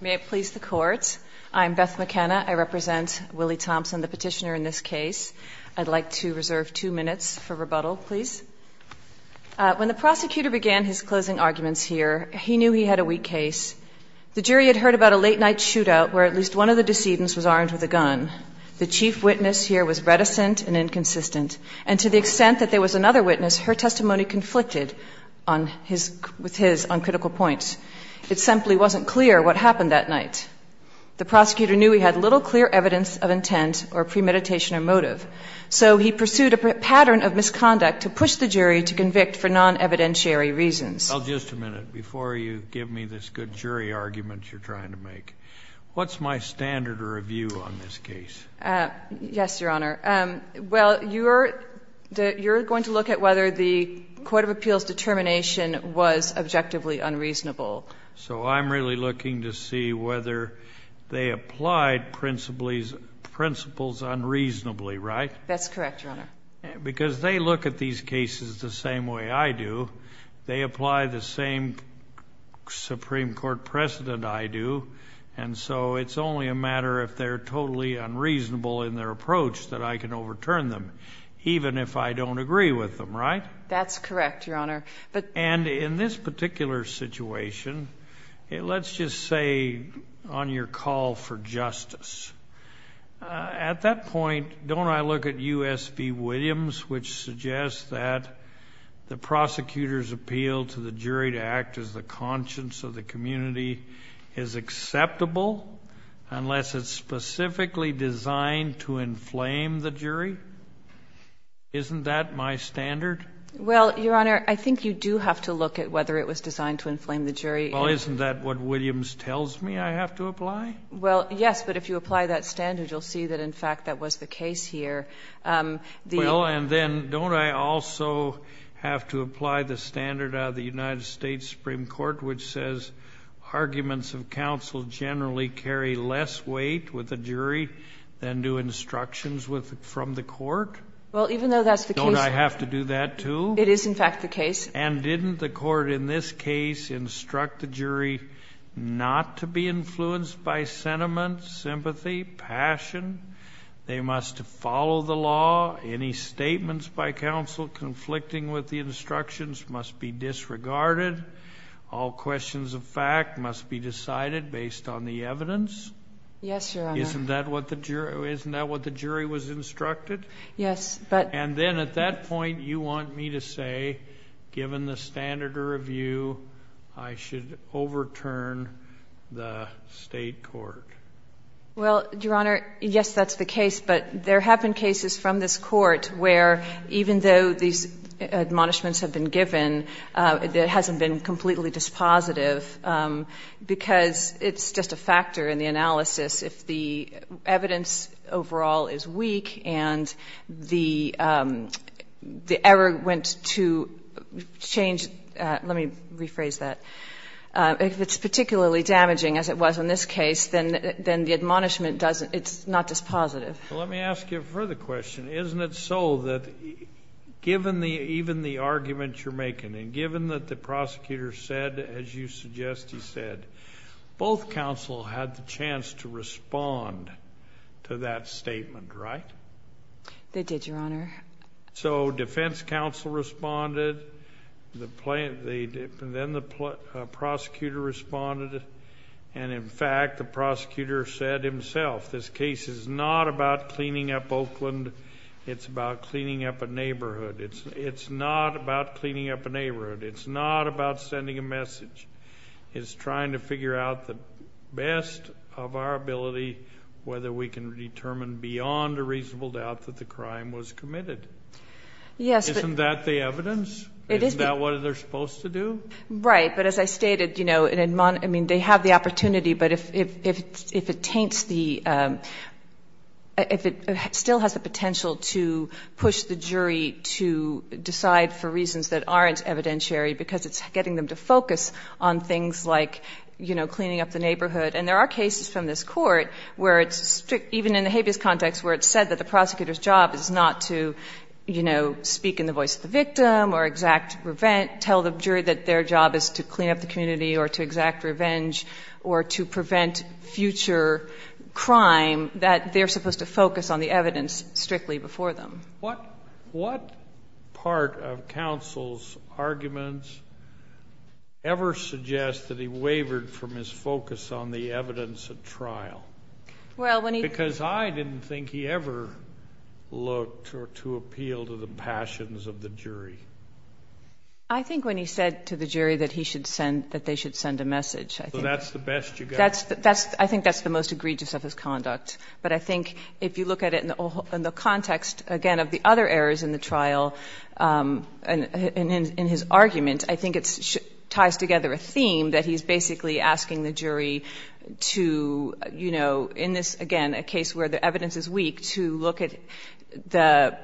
May it please the Court, I'm Beth McKenna. I represent Willie Thompson, the petitioner in this case. I'd like to reserve two minutes for rebuttal, please. When the prosecutor began his closing arguments here, he knew he had a weak case. The jury had heard about a late-night shootout where at least one of the decedents was armed with a gun. The chief witness here was reticent and inconsistent, and to the extent that there was another witness, her testimony conflicted with his on critical points. It simply wasn't clear what happened that night. The prosecutor knew he had little clear evidence of intent or premeditation or motive, so he pursued a pattern of misconduct to push the jury to convict for non-evidentiary reasons. Just a minute. Before you give me this good jury argument you're trying to make, what's my standard of review on this case? Yes, Your Honor. Well, you're going to look at whether the court of appeals determination was objectively unreasonable. So I'm really looking to see whether they applied principles unreasonably, right? That's correct, Your Honor. Because they look at these cases the same way I do. They apply the same Supreme Court precedent I do, and so it's only a matter if they're totally unreasonable in their approach that I can overturn them, even if I don't agree with them, right? That's correct, Your Honor. And in this particular situation, let's just say on your call for justice, at that point don't I look at U.S. v. Williams, which suggests that the prosecutor's appeal to the jury to act as the conscience of the community is acceptable, unless it's specifically designed to inflame the jury? Isn't that my standard? Well, Your Honor, I think you do have to look at whether it was designed to inflame the jury. Well, isn't that what Williams tells me I have to apply? Well, yes, but if you apply that standard you'll see that, in fact, that was the case here. Well, and then don't I also have to apply the standard of the United States Supreme Court, which says arguments of counsel generally carry less weight with a jury than do instructions from the court? Well, even though that's the case. Don't I have to do that too? It is, in fact, the case. And didn't the court in this case instruct the jury not to be influenced by sentiment, sympathy, passion? They must follow the law. Any statements by counsel conflicting with the instructions must be disregarded. All questions of fact must be decided based on the evidence. Yes, Your Honor. Isn't that what the jury was instructed? Yes. And then at that point you want me to say, given the standard of review, I should overturn the state court. Well, Your Honor, yes, that's the case, but there have been cases from this court where even though these admonishments have been given, it hasn't been completely dispositive because it's just a factor in the analysis. If the evidence overall is weak and the error went to change, let me rephrase that, if it's particularly damaging, as it was in this case, then the admonishment doesn't, it's not dispositive. Well, let me ask you a further question. Isn't it so that given even the argument you're making and given that the prosecutor said, as you suggest he said, both counsel had the chance to respond to that statement, right? They did, Your Honor. So defense counsel responded. Then the prosecutor responded. And in fact, the prosecutor said himself, this case is not about cleaning up Oakland. It's about cleaning up a neighborhood. It's not about cleaning up a neighborhood. It's not about sending a message. It's trying to figure out the best of our ability, whether we can determine beyond a Isn't that the evidence? Isn't that what they're supposed to do? Right. But as I stated, they have the opportunity, but if it still has the potential to push the jury to decide for reasons that aren't evidentiary because it's getting them to focus on things like cleaning up the neighborhood, and there are cases from this court where it's strict, even in the habeas context where it's said that the prosecutor's job is not to, you know, speak in the voice of the victim or exact revenge, tell the jury that their job is to clean up the community or to exact revenge or to prevent future crime, that they're supposed to focus on the evidence strictly before them. What part of counsel's arguments ever suggests that he wavered from his focus on the Because I didn't think he ever looked to appeal to the passions of the jury. I think when he said to the jury that they should send a message. So that's the best you got? I think that's the most egregious of his conduct. But I think if you look at it in the context, again, of the other errors in the trial and in his argument, I think it ties together a theme that he's basically asking the So in this, again, a case where the evidence is weak, to look at the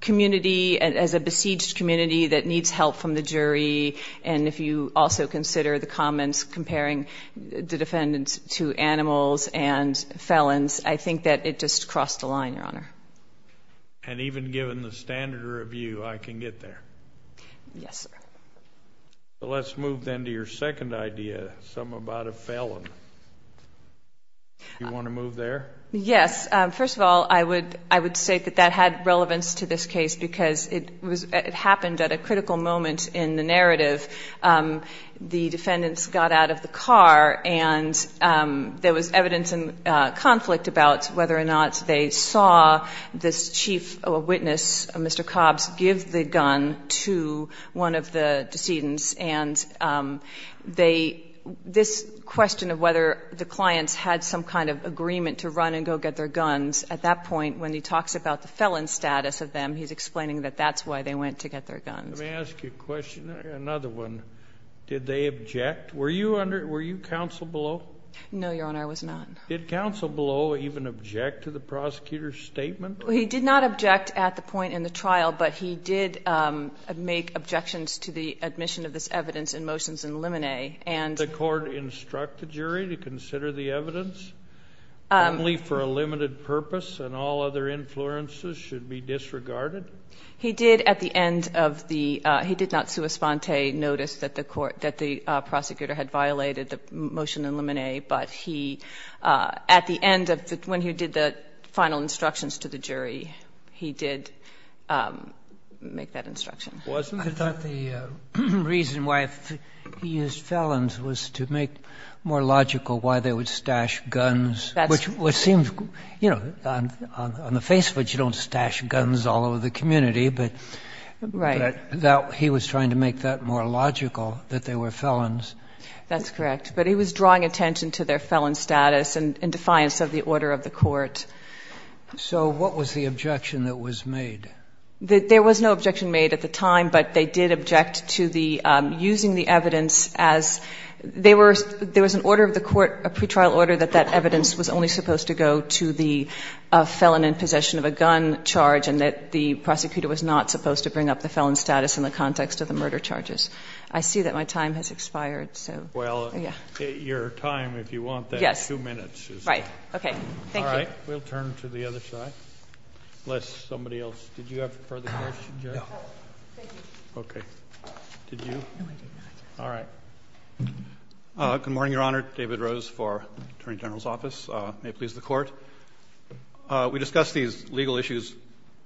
community as a besieged community that needs help from the jury, and if you also consider the comments comparing the defendants to animals and felons, I think that it just crossed the line, Your Honor. And even given the standard review, I can get there? Yes, sir. Let's move then to your second idea, something about a felon. Do you want to move there? Yes. First of all, I would say that that had relevance to this case because it happened at a critical moment in the narrative. The defendants got out of the car, and there was evidence and conflict about whether or not they saw this chief witness, Mr. Cobbs, give the gun to one of the decedents. And this question of whether the clients had some kind of agreement to run and go get their guns, at that point when he talks about the felon status of them, he's explaining that that's why they went to get their guns. Let me ask you a question, another one. Did they object? Were you counsel below? No, Your Honor, I was not. Did counsel below even object to the prosecutor's statement? He did not object at the point in the trial, but he did make objections to the admission of this evidence in motions in limine. And the court instructed the jury to consider the evidence only for a limited purpose, and all other influences should be disregarded? He did at the end of the he did not sui sponte notice that the court that the prosecutor had violated the motion in limine, but he at the end of the when he did the final instructions to the jury, he did make that instruction. I thought the reason why he used felons was to make more logical why they would stash guns, which would seem, you know, on the face of it, you don't stash guns all over the community, but he was trying to make that more logical, that they were felons. That's correct. But he was drawing attention to their felon status and defiance of the order of the court. So what was the objection that was made? There was no objection made at the time, but they did object to the using the evidence as they were there was an order of the court, a pretrial order, that that evidence was only supposed to go to the felon in possession of a gun charge and that the prosecutor was not supposed to bring up the felon status in the context of the murder charges. I see that my time has expired, so. Well, your time, if you want that, is 2 minutes. Right. Thank you. All right. We'll turn to the other side. Unless somebody else. Did you have a further question, Judge? No. Thank you. Okay. Did you? No, I did not. All right. Good morning, Your Honor. David Rose for Attorney General's Office. May it please the Court. We discussed these legal issues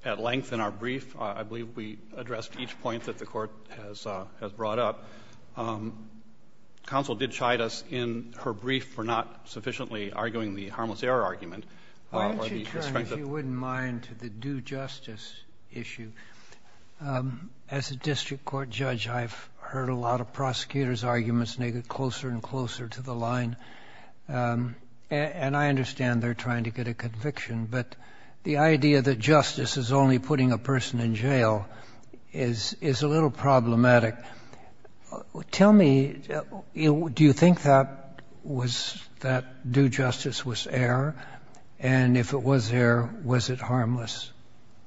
at length in our brief. I believe we addressed each point that the Court has brought up. Counsel did chide us in her brief for not sufficiently arguing the harmless error argument. Why don't you turn, if you wouldn't mind, to the due justice issue. As a district court judge, I've heard a lot of prosecutors' arguments, and they get closer and closer to the line. And I understand they're trying to get a conviction, but the idea that justice is only putting a person in jail is a little problematic. Tell me, do you think that was, that due justice was error? And if it was error, was it harmless?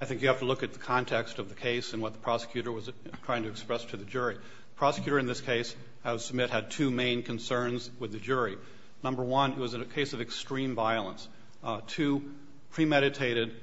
I think you have to look at the context of the case and what the prosecutor was trying to express to the jury. The prosecutor in this case, I would submit, had two main concerns with the jury. Number one, it was a case of extreme violence. Two, premeditated,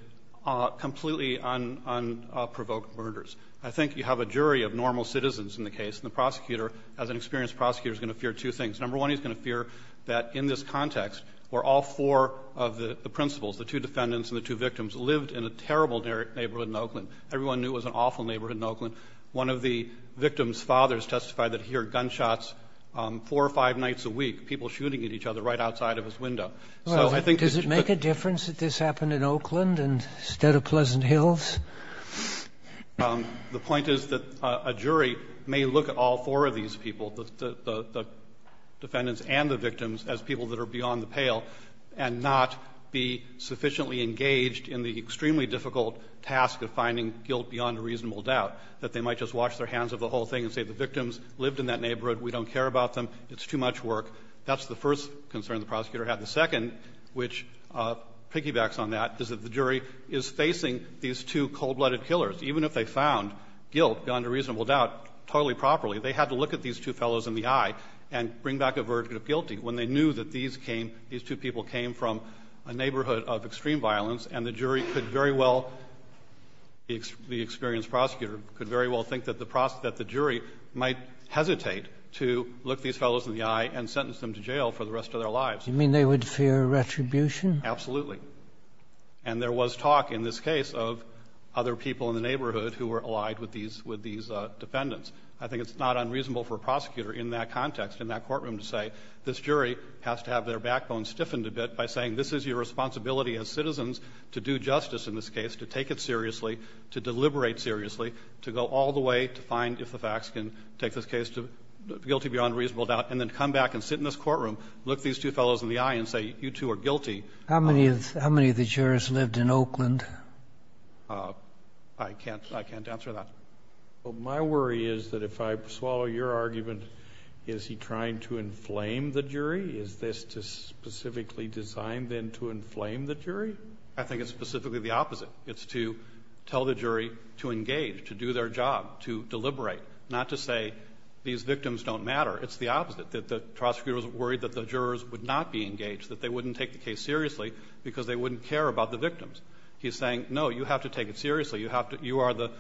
completely unprovoked murders. I think you have a jury of normal citizens in the case, and the prosecutor, as an experienced prosecutor, is going to fear two things. Number one, he's going to fear that in this context, where all four of the principals, the two defendants and the two victims, lived in a terrible neighborhood in Oakland, everyone knew it was an awful neighborhood in Oakland, one of the victim's fathers testified that he heard gunshots four or five nights a week, people shooting at each other right outside of his window. So I think it's just that. Does it make a difference that this happened in Oakland instead of Pleasant Hills? The point is that a jury may look at all four of these people, the defendants and the victims, as people that are beyond the pale, and not be sufficiently engaged in the extremely difficult task of finding guilt beyond a reasonable doubt, that they might just wash their hands of the whole thing and say the victims lived in that neighborhood, we don't care about them, it's too much work. That's the first concern the prosecutor had. The second, which piggybacks on that, is that the jury is facing these two cold-blooded killers. Even if they found guilt beyond a reasonable doubt totally properly, they had to look at these two fellows in the eye and bring back a verdict of guilty when they knew that these came, these two people came from a neighborhood of extreme violence and the jury could very well, the experienced prosecutor could very well think that the jury might hesitate to look these fellows in the eye and sentence them to jail for the rest of their lives. Do you mean they would fear retribution? Absolutely. And there was talk in this case of other people in the neighborhood who were allied with these defendants. I think it's not unreasonable for a prosecutor in that context, in that courtroom to say this jury has to have their backbone stiffened a bit by saying this is your responsibility as citizens to do justice in this case, to take it seriously, to deliberate seriously, to go all the way to find if the facts can take this case to guilty beyond How many of the jurors lived in Oakland? I can't answer that. My worry is that if I swallow your argument, is he trying to inflame the jury? Is this specifically designed then to inflame the jury? I think it's specifically the opposite. It's to tell the jury to engage, to do their job, to deliberate, not to say these victims don't matter. It's the opposite, that the prosecutor is worried that the jurors would not be engaged, that they wouldn't take the case seriously because they wouldn't care about the victims. He's saying, no, you have to take it seriously. You are the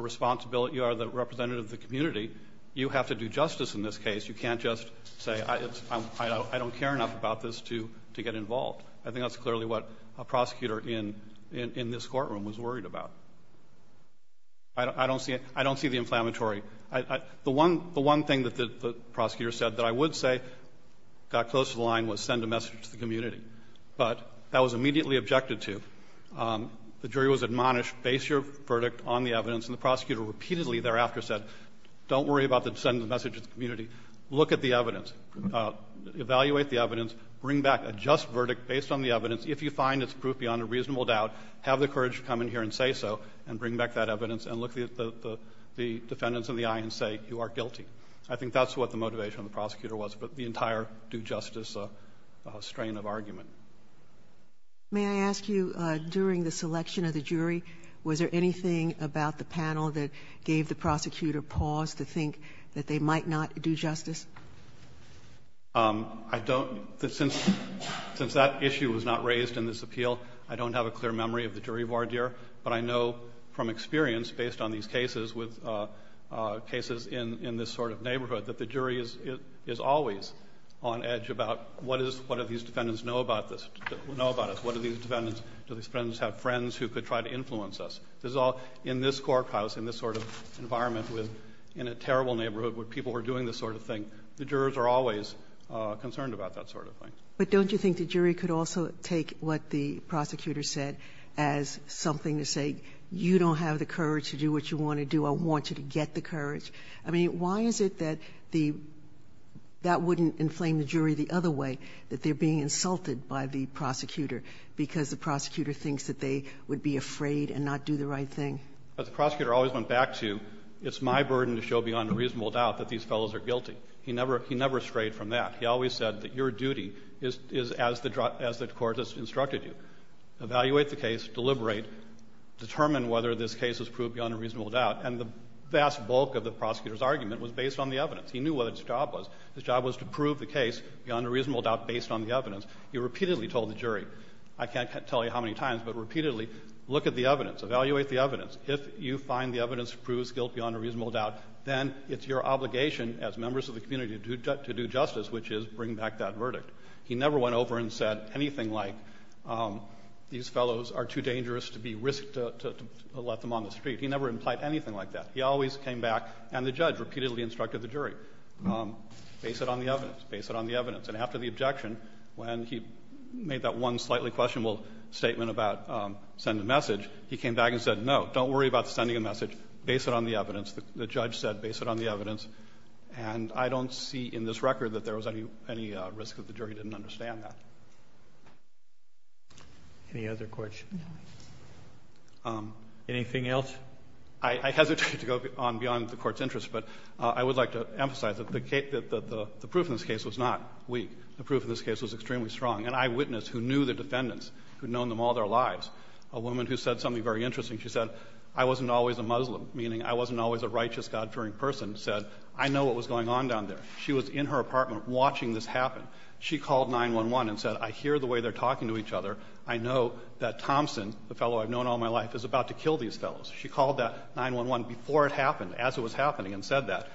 representative of the community. You have to do justice in this case. You can't just say I don't care enough about this to get involved. I think that's clearly what a prosecutor in this courtroom was worried about. I don't see the inflammatory. The one thing that the prosecutor said that I would say got close to the line was send a message to the community. But that was immediately objected to. The jury was admonished, base your verdict on the evidence. And the prosecutor repeatedly thereafter said, don't worry about sending the message to the community. Look at the evidence. Evaluate the evidence. Bring back a just verdict based on the evidence. If you find it's proof beyond a reasonable doubt, have the courage to come in here and say so and bring back that evidence and look the defendants in the eye and say you are guilty. I think that's what the motivation of the prosecutor was, but the entire do justice strain of argument. Sotomayor, may I ask you, during the selection of the jury, was there anything about the panel that gave the prosecutor pause to think that they might not do justice? I don't. Since that issue was not raised in this appeal, I don't have a clear memory of the jury, but I know from experience based on these cases with cases in this sort of neighborhood that the jury is always on edge about what do these defendants know about us? What do these defendants have friends who could try to influence us? This is all in this courthouse, in this sort of environment, in a terrible neighborhood where people were doing this sort of thing. The jurors are always concerned about that sort of thing. But don't you think the jury could also take what the prosecutor said as something to say you don't have the courage to do what you want to do. I want you to get the courage. I mean, why is it that the that wouldn't inflame the jury the other way, that they are being insulted by the prosecutor because the prosecutor thinks that they would be afraid and not do the right thing? The prosecutor always went back to it's my burden to show beyond a reasonable doubt that these fellows are guilty. He never strayed from that. He always said that your duty is as the court has instructed you. Evaluate the case. Deliberate. Determine whether this case is proved beyond a reasonable doubt. And the vast bulk of the prosecutor's argument was based on the evidence. He knew what his job was. His job was to prove the case beyond a reasonable doubt based on the evidence. He repeatedly told the jury, I can't tell you how many times, but repeatedly, look at the evidence. Evaluate the evidence. If you find the evidence proves guilt beyond a reasonable doubt, then it's your obligation as members of the community to do justice, which is bring back that verdict. He never went over and said anything like these fellows are too dangerous to be risked to let them on the street. He never implied anything like that. He always came back and the judge repeatedly instructed the jury. Base it on the evidence. Base it on the evidence. And after the objection, when he made that one slightly questionable statement about sending a message, he came back and said, no, don't worry about sending Base it on the evidence. The judge said base it on the evidence. And I don't see in this record that there was any risk that the jury didn't understand that. Any other courts? No. Anything else? I hesitate to go beyond the Court's interest, but I would like to emphasize that the proof in this case was not weak. The proof in this case was extremely strong. And I witnessed who knew the defendants, who had known them all their lives, a woman who said something very interesting. She said, I wasn't always a Muslim, meaning I wasn't always a righteous, God-fearing person, said, I know what was going on down there. She was in her apartment watching this happen. She called 911 and said, I hear the way they're talking to each other. I know that Thompson, the fellow I've known all my life, is about to kill these fellows. She called that 911 before it happened, as it was happening, and said that.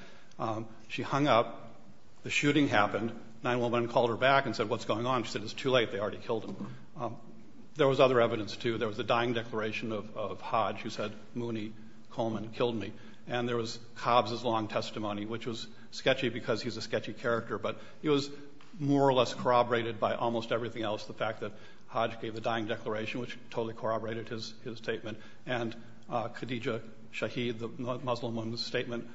She hung up. The shooting happened. 911 called her back and said, what's going on? She said, it's too late. They already killed him. There was other evidence, too. There was a dying declaration of Haj who said, Mooney Coleman killed me. And there was Cobbs' long testimony, which was sketchy because he's a sketchy character. But it was more or less corroborated by almost everything else, the fact that Haj gave a dying declaration, which totally corroborated his statement, and Khadijah Shaheed, the Muslim woman's statement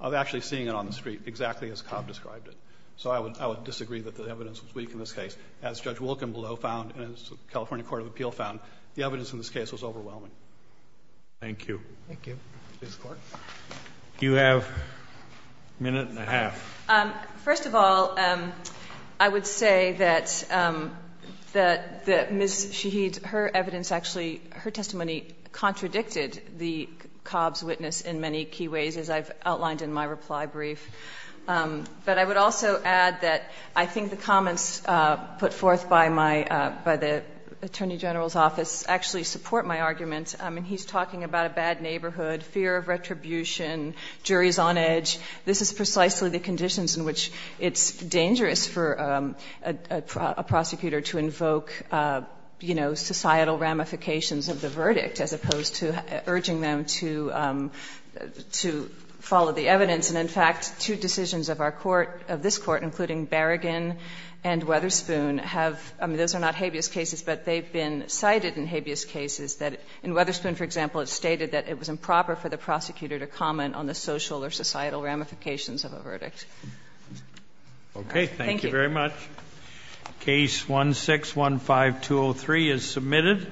of actually seeing it on the street, exactly as Cobb described it. So I would disagree that the evidence was weak in this case. As Judge Wilkenbelow found and as the California Court of Appeal found, the evidence in this case was overwhelming. Thank you. Thank you. Ms. Court. You have a minute and a half. First of all, I would say that Ms. Shaheed, her evidence actually, her testimony contradicted the Cobbs witness in many key ways, as I've outlined in my reply brief. But I would also add that I think the comments put forth by my, by the Attorney General's office actually support my argument. I mean, he's talking about a bad neighborhood, fear of retribution, jury's on edge. This is precisely the conditions in which it's dangerous for a prosecutor to invoke, you know, societal ramifications of the verdict, as opposed to urging them to follow the evidence. And, in fact, two decisions of our court, of this Court, including Berrigan and Weatherspoon, have, I mean, those are not habeas cases, but they've been cited in habeas cases that, in Weatherspoon, for example, it stated that it was improper for the prosecutor to comment on the social or societal ramifications of a verdict. All right. Thank you. Okay. Thank you very much. Case 1615203 is submitted.